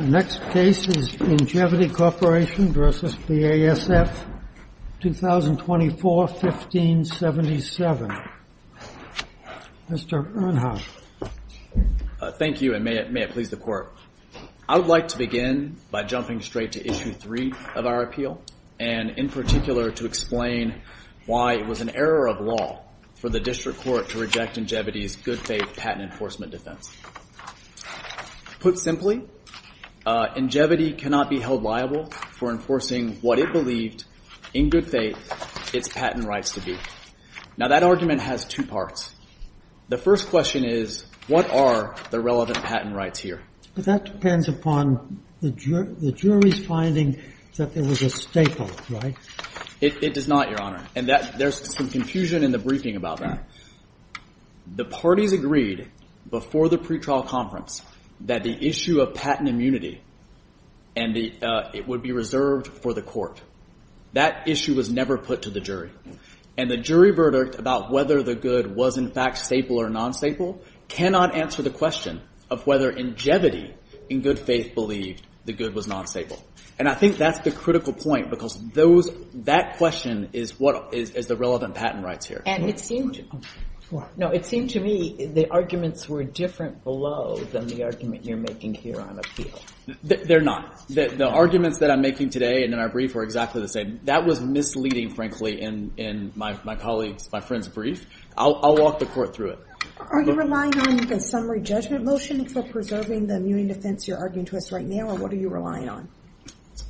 Next case is Ingevity Corporation v. BASF, 2024-1577. Mr. Earnhardt. Thank you, and may it please the Court. I would like to begin by jumping straight to Issue 3 of our appeal, and in particular to explain why it was an error of law for the Ingevity cannot be held liable for enforcing what it believed, in good faith, its patent rights to be. Now, that argument has two parts. The first question is, what are the relevant patent rights here? But that depends upon the jury's finding that there was a staple, right? It does not, Your Honor, and there's some confusion in the briefing about that. The parties agreed before the pretrial conference that the issue of patent immunity and it would be reserved for the Court. That issue was never put to the jury, and the jury verdict about whether the good was, in fact, staple or non-staple cannot answer the question of whether Ingevity, in good faith, believed the good was non-staple. And I think that's the critical point, because that question is, what is the relevant patent rights here? And it seemed to me the arguments were different below than the argument you're making here on appeal. They're not. The arguments that I'm making today and in our brief were exactly the same. That was misleading, frankly, in my colleague's, my friend's brief. I'll walk the Court through it. Are you relying on a summary judgment motion for preserving the immune defense you're arguing to us right now, or what are you relying on?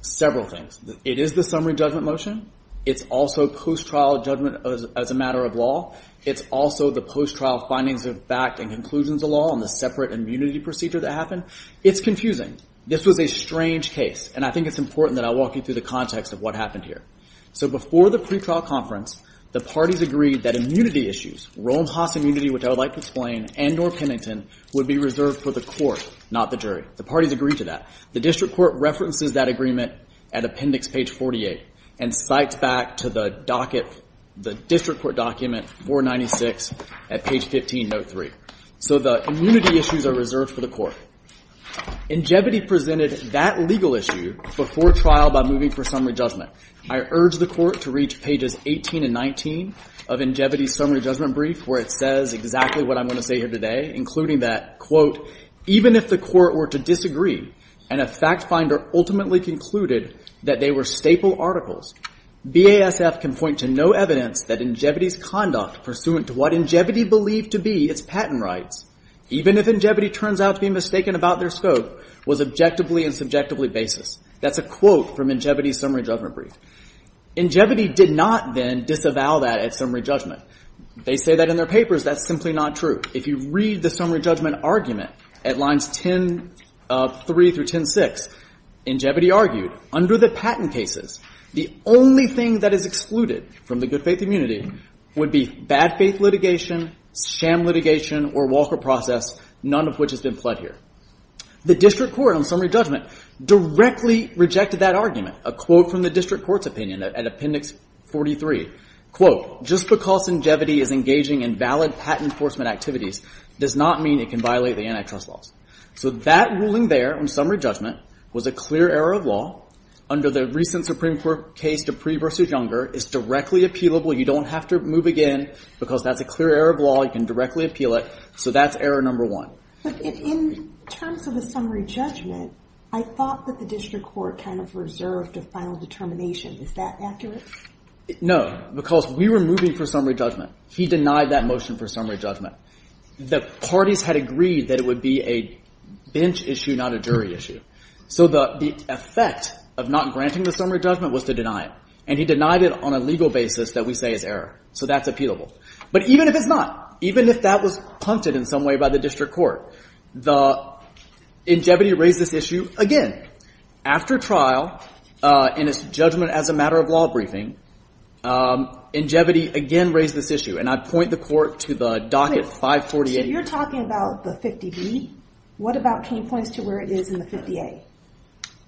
Several things. It is the summary judgment motion. It's also post-trial judgment as a matter of law. It's also the post-trial findings of fact and conclusions of law on the separate immunity procedure that happened. It's confusing. This was a strange case, and I think it's important that I walk you through the context of what happened here. So before the pretrial conference, the parties agreed that immunity issues, Roam-Haas immunity, which I would like to explain, and or Pennington, would be reserved for the Court, not the jury. The parties agreed to that. The District Court references that agreement at appendix page 48 and cites back to the docket, the District Court document 496 at page 1503. So the immunity issues are reserved for the Court. Ingevity presented that legal issue before trial by moving for summary judgment. I urge the Court to reach pages 18 and 19 of Ingevity's summary judgment brief, where it says exactly what I'm saying here today, including that, quote, even if the Court were to disagree and a fact finder ultimately concluded that they were staple articles, BASF can point to no evidence that Ingevity's conduct pursuant to what Ingevity believed to be its patent rights, even if Ingevity turns out to be mistaken about their scope, was objectively and subjectively basis. That's a quote from Ingevity's summary judgment brief. Ingevity did not then disavow that at summary judgment. They say that in their papers. That's simply not true. If you read the summary judgment argument at lines 10-3 through 10-6, Ingevity argued under the patent cases, the only thing that is excluded from the good faith immunity would be bad faith litigation, sham litigation, or Walker process, none of which has been fled here. The District Court on summary judgment directly rejected that argument. A quote from the District Court's opinion at appendix 43, quote, just because Ingevity is engaging in valid patent enforcement activities does not mean it can violate the antitrust laws. So that ruling there on summary judgment was a clear error of law under the recent Supreme Court case to Pree versus Younger. It's directly appealable. You don't have to move again because that's a clear error of law. You can directly appeal it. So that's error number one. But in terms of the summary judgment, I thought that the District Court kind of reserved a final determination. Is that accurate? No, because we were moving for summary judgment. He denied that motion for summary judgment. The parties had agreed that it would be a bench issue, not a jury issue. So the effect of not granting the summary judgment was to deny it. And he denied it on a legal basis that we say is error. So that's appealable. But even if it's not, even if that was punted in some way by the District Court, Ingevity raised this issue again after trial in its judgment as a matter of law briefing. Ingevity again raised this issue. And I point the court to the docket 548. So you're talking about the 50B. What about 10 points to where it is in the 50A?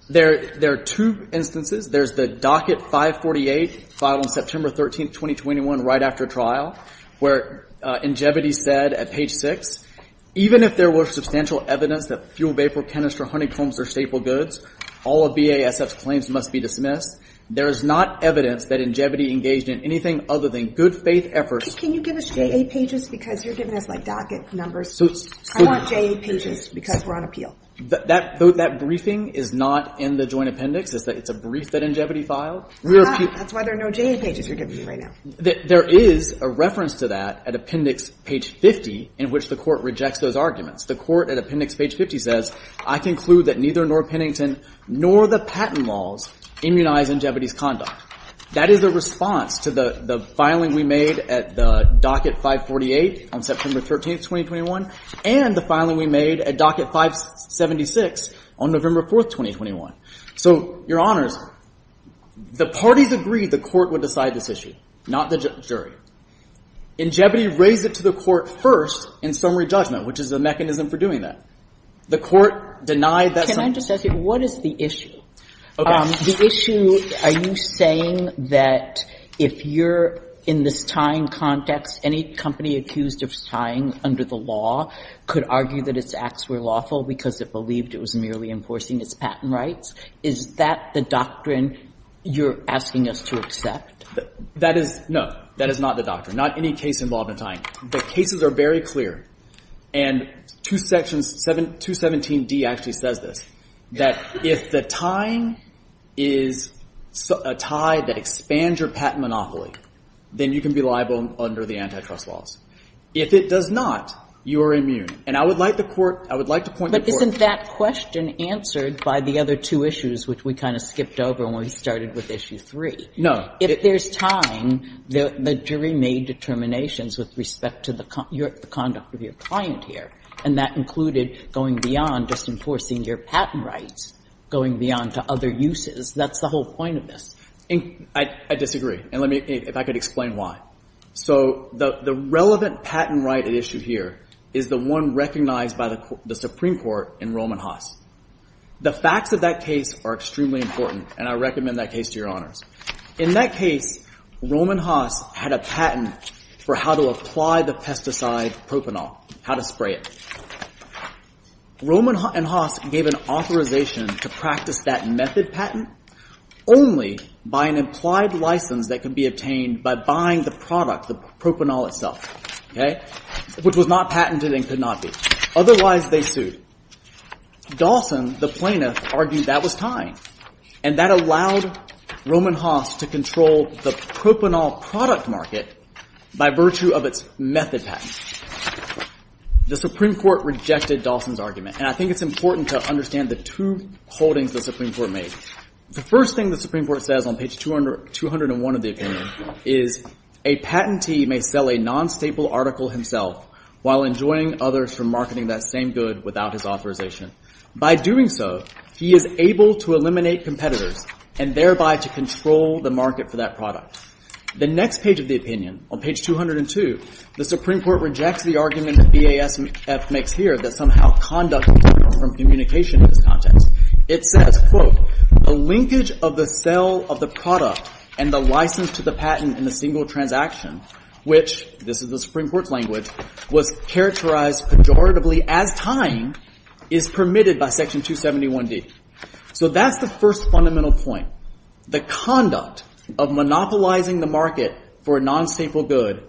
There are two instances. There's the docket 548 filed on September 13, 2021 right after trial, where Ingevity said at page 6, even if there were substantial evidence that fuel, vapor, canister, honeycombs are staple goods, all of BASF's claims must be dismissed. There is not evidence that Ingevity engaged in anything other than good faith efforts. Can you give us J.A. pages? Because you're giving us, like, docket numbers. I want J.A. pages because we're on appeal. That briefing is not in the joint appendix. It's a brief that Ingevity filed. That's why there are no J.A. pages you're giving me right now. There is a reference to that at appendix page 50 in which the court rejects those arguments. The court at appendix page 50 says, I conclude that neither Norr Pennington nor the patent laws immunize Ingevity's conduct. That is a response to the filing we made at the docket 548 on September 13, 2021, and the filing we made at docket 576 on November 4, 2021. So, Your Honors, the parties agreed the court would decide this issue, not the jury. Ingevity raised it to the court first in summary judgment, which is the mechanism for doing that. The court denied that. Can I just ask you, what is the issue? The issue, are you saying that if you're in this tying context, any company accused of tying under the law could argue that its acts were lawful because it believed it was merely enforcing its patent rights? Is that the doctrine you're asking us to accept? No, that is not the doctrine. Not any case involved in tying. The cases are very clear, and 217D actually says this, that if the tying is a tie that expands your patent monopoly, then you can be liable under the antitrust laws. If it does not, you are immune. And I would like to point the court. But isn't that question answered by the other two issues, which we kind of skipped over when we started with issue three? No. If there's tying, the jury made determinations with respect to the conduct of your client here, and that included going beyond just enforcing your patent rights, going beyond to other uses. That's the whole point of this. I disagree, and let me, if I could explain why. So, the relevant patent right at issue here is the one recognized by the Supreme Court in Roman Haas. The facts of that case are extremely important, and I recommend that case to your honors. In that case, Roman Haas had a patent for how to apply the pesticide propranol, how to spray it. Roman and Haas gave an authorization to practice that method patent only by an implied license that could be obtained by buying the propranol itself, which was not patented and could not be. Otherwise, they sued. Dawson, the plaintiff, argued that was tying, and that allowed Roman Haas to control the propranol product market by virtue of its method patent. The Supreme Court rejected Dawson's argument, and I think it's important to understand the two holdings the Supreme Court made. The first thing the Supreme Court says on page 201 of the opinion is a patentee may sell a non-staple article himself while enjoying others from marketing that same good without his authorization. By doing so, he is able to eliminate competitors and thereby to control the market for that product. The next page of the opinion, on page 202, the Supreme Court rejects the argument that BASF makes here that somehow conduct is different from communication in this context. It says, quote, the linkage of the sale of the product and the license to the patent in a single transaction, which, this is the Supreme Court's language, was characterized pejoratively as tying is permitted by section 271D. So that's the first fundamental point. The conduct of monopolizing the market for a non-staple good,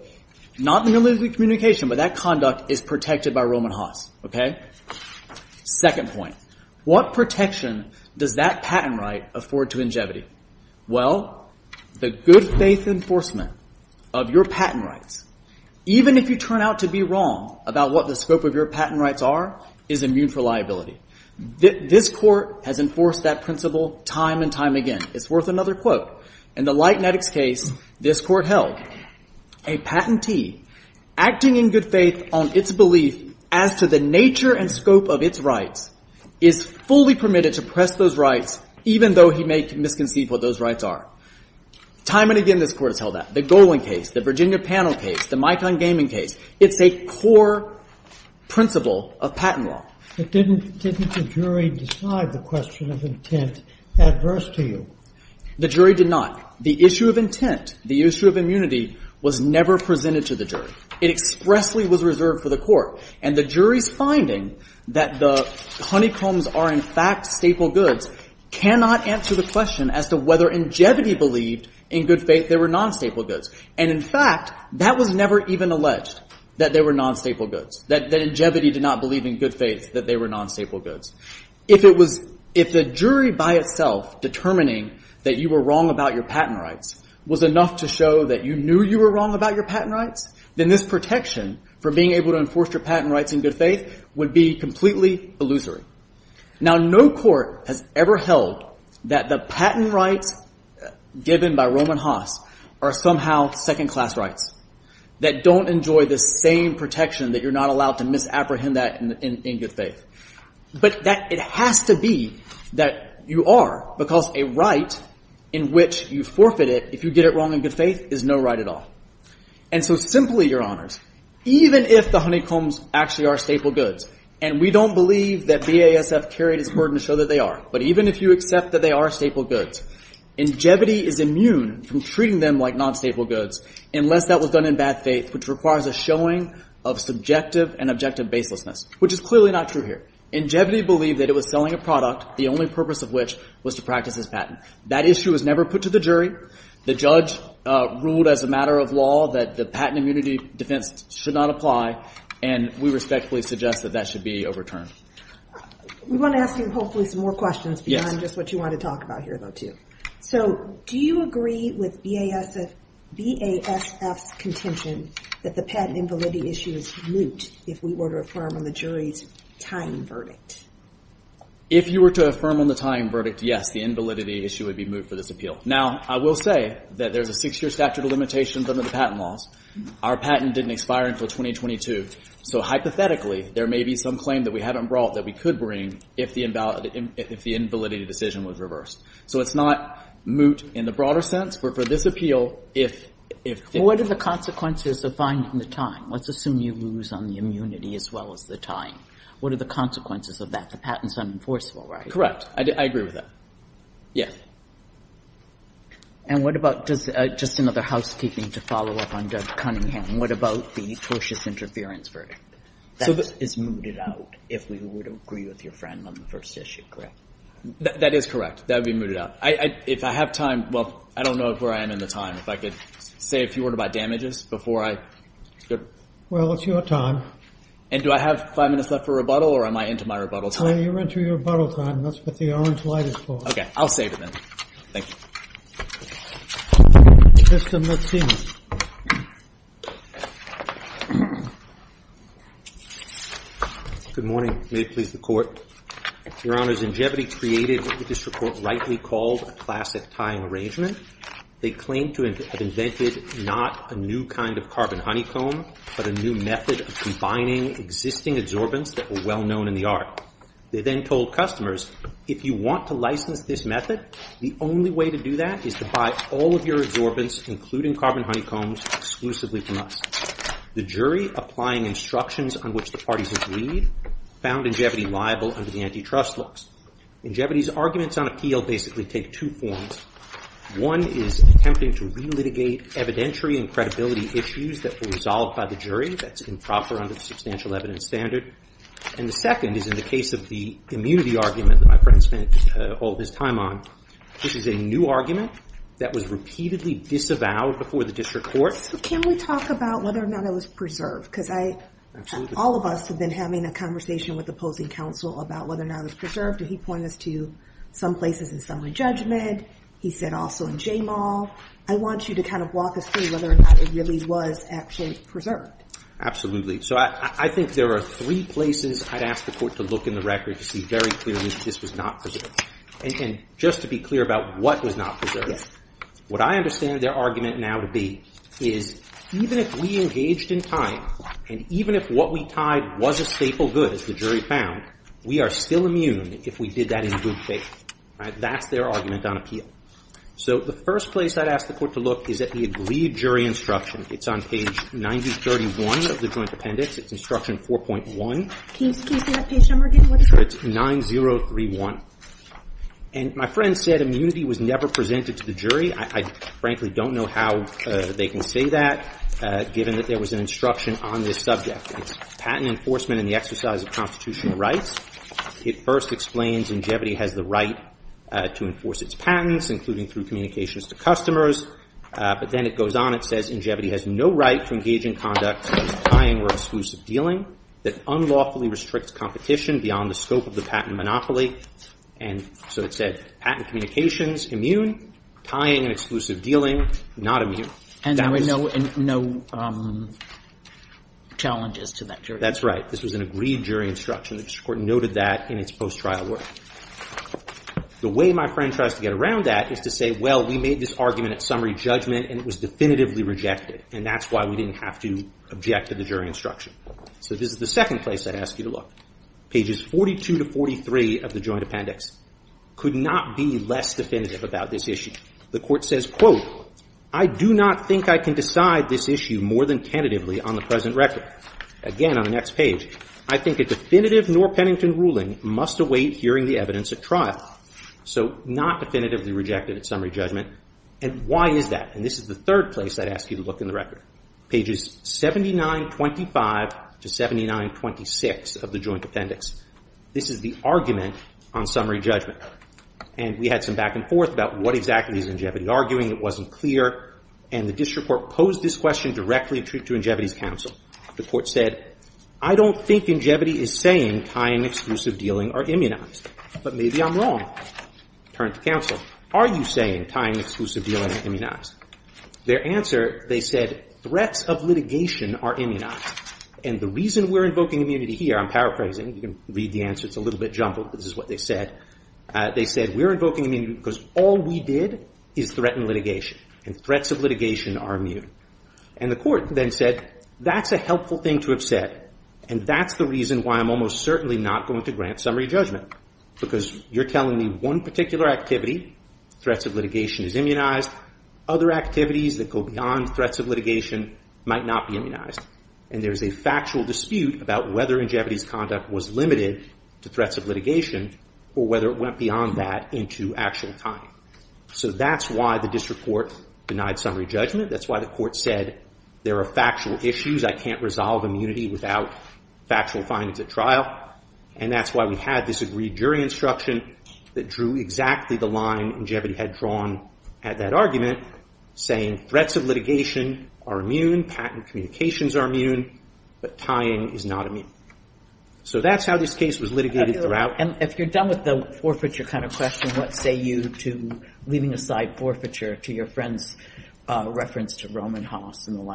not merely through communication, but that conduct is protected by Roman Haas, okay? Second point, what protection does that patent right afford to Ingevity? Well, the good faith enforcement of your patent rights, even if you turn out to be wrong about what the scope of your patent rights are, is immune for liability. This Court has enforced that principle time and time again. It's worth another quote. In the Lightnetics case, this Court held, a patentee acting in good faith on its belief as to the nature and scope of its rights is fully permitted to press those rights, even though he may misconceive what those rights are. Time and again, this Court has held that. The Golan case, the Virginia Panel case, the Micon Gaming case, it's a core principle of patent law. But didn't the jury decide the question of intent adverse to you? The jury did not. The issue of intent, the issue of immunity was never presented to the jury. It expressly was reserved for the Court. And the jury's finding that the honeycombs are in fact staple goods cannot answer the question as to whether Ingevity believed in good faith they were non-staple goods. And in fact, that was never even alleged, that they were non-staple goods, that Ingevity did not believe in good faith that they were non-staple goods. If it was, if the jury by itself determining that you were wrong about your patent rights was enough to show that you knew you were wrong about your patent rights, then this protection for being able to enforce your patent rights in good faith would be completely illusory. Now, no Court has ever held that the patent rights given by Roman Haas are somehow second-class rights, that don't enjoy the same protection that you're not allowed to misapprehend that in good faith. But that it has to be that you are, because a right in which you forfeit it if you get it wrong in good faith is no right at all. And so simply, Your Honors, even if the honeycombs actually are staple goods, and we don't believe that BASF carried its burden to show that they are, but even if you accept that they are staple goods, Ingevity is immune from treating them like non-staple goods unless that was done in bad faith, which requires a showing of subjective and objective baselessness, which is clearly not true here. Ingevity believed that it was selling a product, the only purpose of which was to practice its patent. That issue was never put to the jury. The judge ruled as a matter of law that the patent immunity defense should not apply, and we respectfully suggest that that should be overturned. We want to ask you hopefully some more questions beyond just what you want to talk about here, though, too. So do you agree with BASF's contention that the patent invalidity issue is moot if we were to affirm on the jury's tying verdict? If you were to affirm on the tying verdict, yes, the invalidity issue would be moot for this appeal. Now, I will say that there's a six-year statute of limitations under the patent laws. Our patent didn't expire until 2022. So hypothetically, there may be some claim that we haven't brought that we could bring if the invalidity decision was reversed. So it's not moot in the broader sense, but for this appeal, if they're moot. Well, what are the consequences of finding the tying? Let's assume you lose on the immunity as well as the tying. What are the consequences of that? The patent's unenforceable, right? Correct. I agree with that. Yeah. And what about just another housekeeping to follow up on Doug Cunningham? What about the tortious interference verdict? That is mooted out if we were to agree with your friend on the first issue, correct? That is correct. That would be mooted out. If I have time, well, I don't know where I am in the time. If I could say a few words about damages before I... Well, it's your time. And do I have five minutes left for rebuttal or am I into my rebuttal time? You're into your rebuttal time. That's what the orange light is for. Okay. I'll save it then. Thank you. Tristan, let's see. Good morning. May it please the Court. Your Honor, Zangevity created what the district court rightly called a classic tying arrangement. They claim to have invented not a new kind of carbon honeycomb, but a new method of combining existing adsorbents that were well known in the art. They then told customers, if you want to license this method, the only way to do that is to buy all of your adsorbents, including carbon honeycombs, exclusively from us. The jury, applying instructions on which the parties agreed, found Zangevity liable under the antitrust laws. Zangevity's arguments on appeal basically take two forms. One is attempting to relitigate evidentiary and credibility issues that were resolved by the jury. That's improper under the substantial evidence standard. And the second is in the case of the immunity argument that my friend spent all his time on. This is a new argument that was repeatedly disavowed before the district court. Can we talk about whether or not it was preserved? Because I, all of us have been having a conversation with opposing counsel about whether or not it was preserved. And he pointed us to some places in summary judgment. He said also in J-Mall. I want you to kind of walk us through whether or not it really was actually preserved. Absolutely. So I think there are three places I'd ask the court to look in the record to see very clearly that this was not preserved. And just to be clear about what was not preserved, what I understand their argument now to be is even if we engaged in time, and even if what we tied was a staple good, as the jury found, we are still immune if we did that in good faith. That's their argument on appeal. So the first place I'd ask the court to look is at the agreed jury instruction. It's on page 9031 of the joint appendix. It's instruction 4.1. Can you say that page number again? 9031. And my friend said immunity was never presented to the jury. I frankly don't know how they can say that, given that there was an instruction on this subject. It's patent enforcement in the exercise of constitutional rights. It first explains Ingevity has the right to enforce its patents, including through communications to customers. But then it goes on. It says Ingevity has no right to engage in conduct such as tying or exclusive dealing that unlawfully restricts competition beyond the scope of the patent monopoly. And so it said patent communications, immune. Tying and exclusive dealing, not immune. And there were no challenges to that jury? That's right. This was an agreed jury instruction. The district court noted that in its post-trial work. The way my friend tries to get around that is to say, well, we made this argument at summary judgment and it was definitively rejected. And that's why we didn't have to object to the jury instruction. So this is the second place I'd ask you to look. Pages 42 to 43 of the joint appendix could not be less definitive about this issue. The court says, quote, I do not think I can decide this issue more than tentatively on the present record. Again, on the next page, I think a definitive Norr-Pennington ruling must await hearing the evidence at trial. So not definitively rejected at summary judgment. And why is that? And this is the third place I'd ask you to look in the record. Pages 7925 to 7926 of the joint appendix. This is the argument on summary judgment. And we had some back and forth about what exactly is Ingevity arguing. It wasn't clear. And the district court posed this question directly to Ingevity's counsel. The court said, I don't think Ingevity is saying tying and exclusive dealing are immunized. But maybe I'm wrong. Turn to counsel. Are you saying tying and exclusive dealing are immunized? Their answer, they said, threats of litigation are immunized. And the reason we're invoking immunity here, I'm paraphrasing. You can read the answer. It's a little bit jumbled, but this is what they said. They said, we're invoking immunity because all we did is threaten litigation. And threats of litigation are immune. And the court then said, that's a helpful thing to have said. And that's the reason why I'm almost certainly not going to grant summary judgment. Because you're telling me one particular activity, threats of litigation is immunized. Other activities that go beyond threats of litigation might not be immunized. And there's a factual dispute about whether Ingevity's conduct was limited to threats of litigation or whether it went beyond that into actual time. So that's why the district court denied summary judgment. That's why the court said, there are factual issues. I can't resolve immunity without factual findings at trial. And that's why we had this agreed jury instruction that drew exactly the line Ingevity had drawn at that argument, saying threats of litigation are immune. Patent communications are immune. But tying is not immune. So that's how this case was litigated throughout. And if you're done with the forfeiture kind of question, what say you to leaving aside forfeiture to your friend's reference to Roman Hoss and the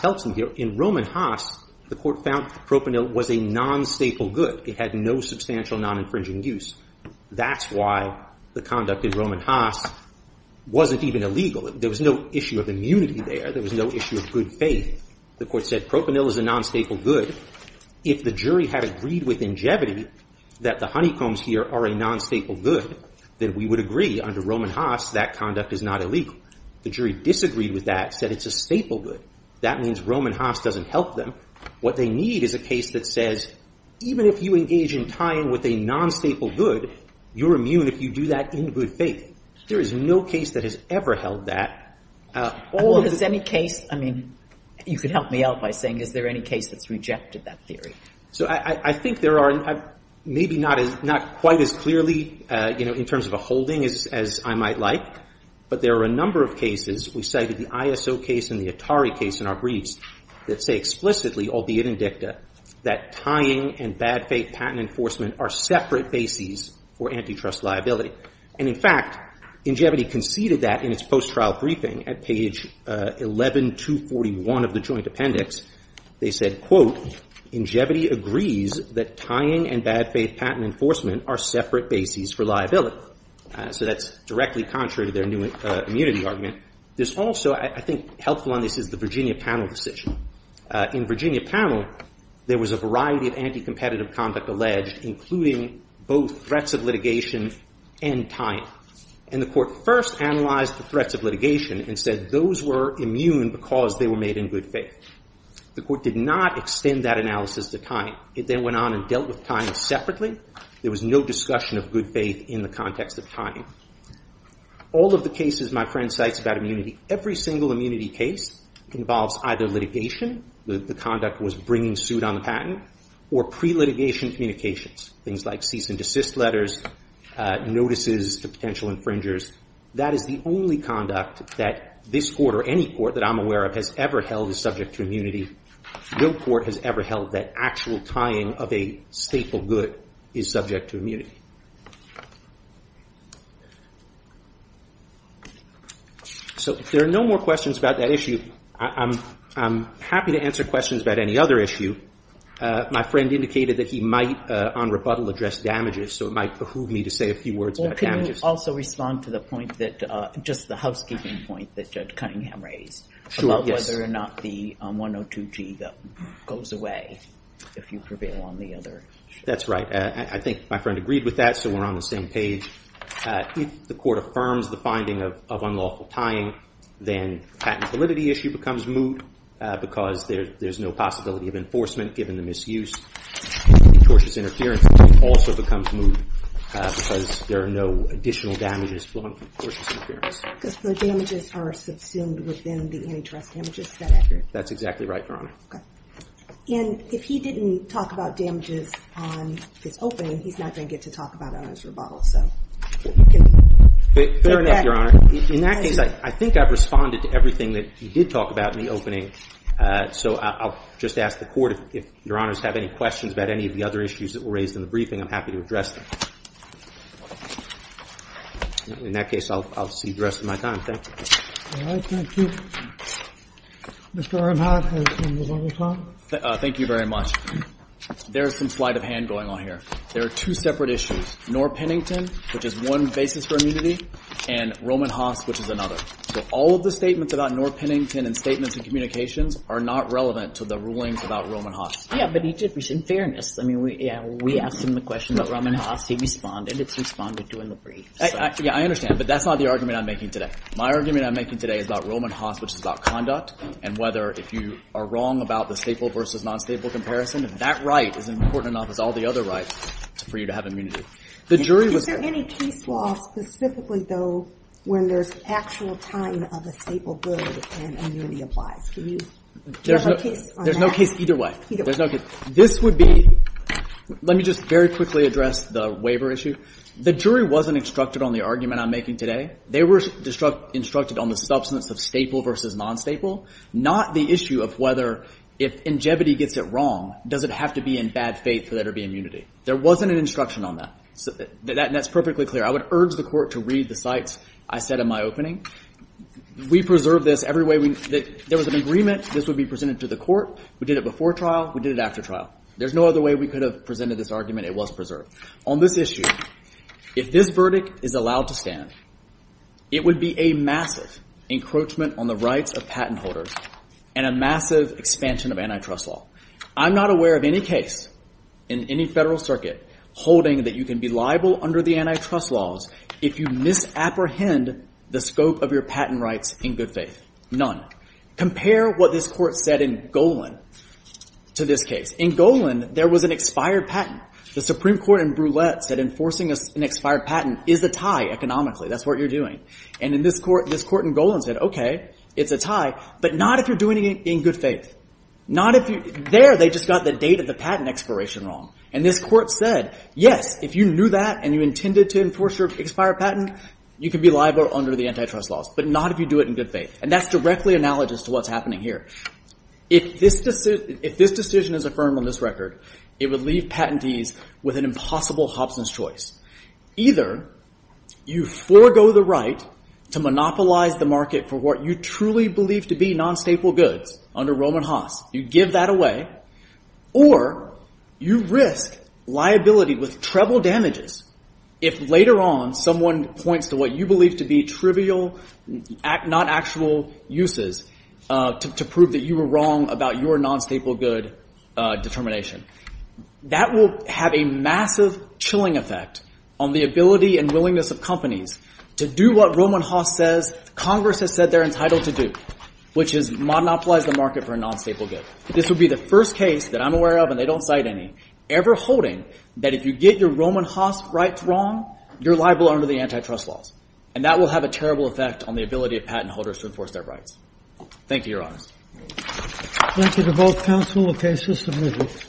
helps him here. In Roman Hoss, the court found propanil was a non-staple good. It had no substantial non-infringing use. That's why the conduct in Roman Hoss wasn't even illegal. There was no issue of immunity there. There was no issue of good faith. The court said propanil is a non-staple good. If the jury had agreed with Ingevity that the honeycombs here are a non-staple good, then we would agree under Roman Hoss that conduct is not illegal. The jury disagreed with that, said it's a staple good. That means Roman Hoss doesn't help them. What they need is a case that says even if you engage in tying with a non-staple good, you're immune if you do that in good faith. There is no case that has ever held that. Or has any case, I mean, you could help me out by saying is there any case that's rejected that theory? So I think there are, maybe not quite as clearly, you know, in terms of a holding as I might like. But there are a number of cases. We cited the ISO case and the Atari case in our briefs that say explicitly, albeit in dicta, that tying and bad faith patent enforcement are separate bases for antitrust liability. And in fact, Ingevity conceded that in its post-trial briefing at page 11241 of the joint appendix. They said, quote, Ingevity agrees that tying and bad faith patent enforcement are separate bases for liability. So that's directly contrary to their new immunity argument. There's also, I think helpful on this is the Virginia panel decision. In Virginia panel, there was a variety of anti-competitive conduct alleged, including both threats of litigation and tying. And the court first analyzed the threats of litigation and said those were immune because they were made in good faith. The court did not extend that analysis to tying. It went on and dealt with tying separately. There was no discussion of good faith in the context of tying. All of the cases my friend cites about immunity, every single immunity case involves either litigation, the conduct was bringing suit on the patent, or pre-litigation communications, things like cease and desist letters, notices to potential infringers. That is the only conduct that this court or any court that I'm aware of has ever held is subject to immunity. No court has ever held that actual tying of a staple good is subject to immunity. So if there are no more questions about that issue, I'm happy to answer questions about any other issue. My friend indicated that he might on rebuttal address damages, so it might behoove me to say a few words about damages. Well, can you also respond to the point that, just the housekeeping point that Judge Cunningham raised about whether or not the 102G goes away if you prevail on the other? That's right. I think my friend agreed with that, so we're on the same page. If the court affirms the finding of unlawful tying, then patent validity issue becomes moot because there's no possibility of enforcement given the misuse. Tortious interference also becomes moot because there are no additional damages. Because the damages are subsumed within the antitrust damages. That's exactly right, Your Honor. Okay. And if he didn't talk about damages on his opening, he's not going to get to talk about it on his rebuttal. Fair enough, Your Honor. In that case, I think I've responded to everything that you did talk about in the opening, so I'll just ask the court if Your Honors have any questions about any of the other issues that were raised in the briefing, I'm happy to address them. In that case, I'll see you the rest of my time. Thank you. All right. Thank you. Mr. Aronhoff, you have a couple of minutes left. Thank you very much. There's some sleight of hand going on here. There are two separate issues, Norr Pennington, which is one basis for immunity, and Roman Haas, which is another. So all of the statements about Norr Pennington and statements in communications are not relevant to the rulings about Roman Haas. Yeah, but in fairness, we asked him the question about Roman Haas, he responded, it's responded to in the brief. I understand, but that's not the argument I'm making today. My argument I'm making today is about Roman Haas, which is about conduct, and whether if you are wrong about the staple versus non-staple comparison, that right is important enough as all the other rights for you to have immunity. Is there any case law specifically, though, when there's actual time of a staple good and immunity applies? Do you have a case on that? There's no case either way. There's no case. This would be, let me just very quickly address the waiver issue. The jury wasn't instructed on the argument I'm making today. They were instructed on the substance of staple versus non-staple, not the issue of whether if Ingevity gets it wrong, does it have to be in bad faith for there to be immunity. There wasn't an instruction on that. That's perfectly clear. I would urge the Court to read the cites I said in my opening. We preserved this every way. There was an agreement this would be presented to the Court. We did it before trial. We did it after trial. There's no other way we could have presented this argument. It was preserved. On this issue, if this verdict is allowed to stand, it would be a massive encroachment on the rights of patent holders and a massive expansion of antitrust law. I'm not aware of any case in any federal circuit holding that you can liable under the antitrust laws if you misapprehend the scope of your patent rights in good faith. None. Compare what this Court said in Golan to this case. In Golan, there was an expired patent. The Supreme Court in Brulette said enforcing an expired patent is a tie economically. That's what you're doing. This Court in Golan said, okay, it's a tie, but not if you're doing it in good faith. There, they just got the date of the patent expiration wrong. This Court said, yes, if you knew that and you intended to enforce your expired patent, you can be liable under the antitrust laws, but not if you do it in good faith. That's directly analogous to what's happening here. If this decision is affirmed on this record, it would leave patentees with an impossible Hobson's choice. Either you forego the right to monopolize the market for what you truly believe to be non-staple goods under Roman Haas. You give that away, or you risk liability with treble damages if later on someone points to what you believe to be trivial, not actual uses to prove that you were wrong about your non-staple good determination. That will have a massive chilling effect on the ability and willingness of companies to do what Roman Haas says Congress has said they're entitled to do, which is monopolize the market for a non-staple good. This would be the first case that I'm aware of, and they don't cite any, ever holding that if you get your Roman Haas rights wrong, you're liable under the antitrust laws. And that will have a terrible effect on the ability of patent holders to enforce their rights. Thank you, Your Honors. Thank you to both counsel. Okay, system move.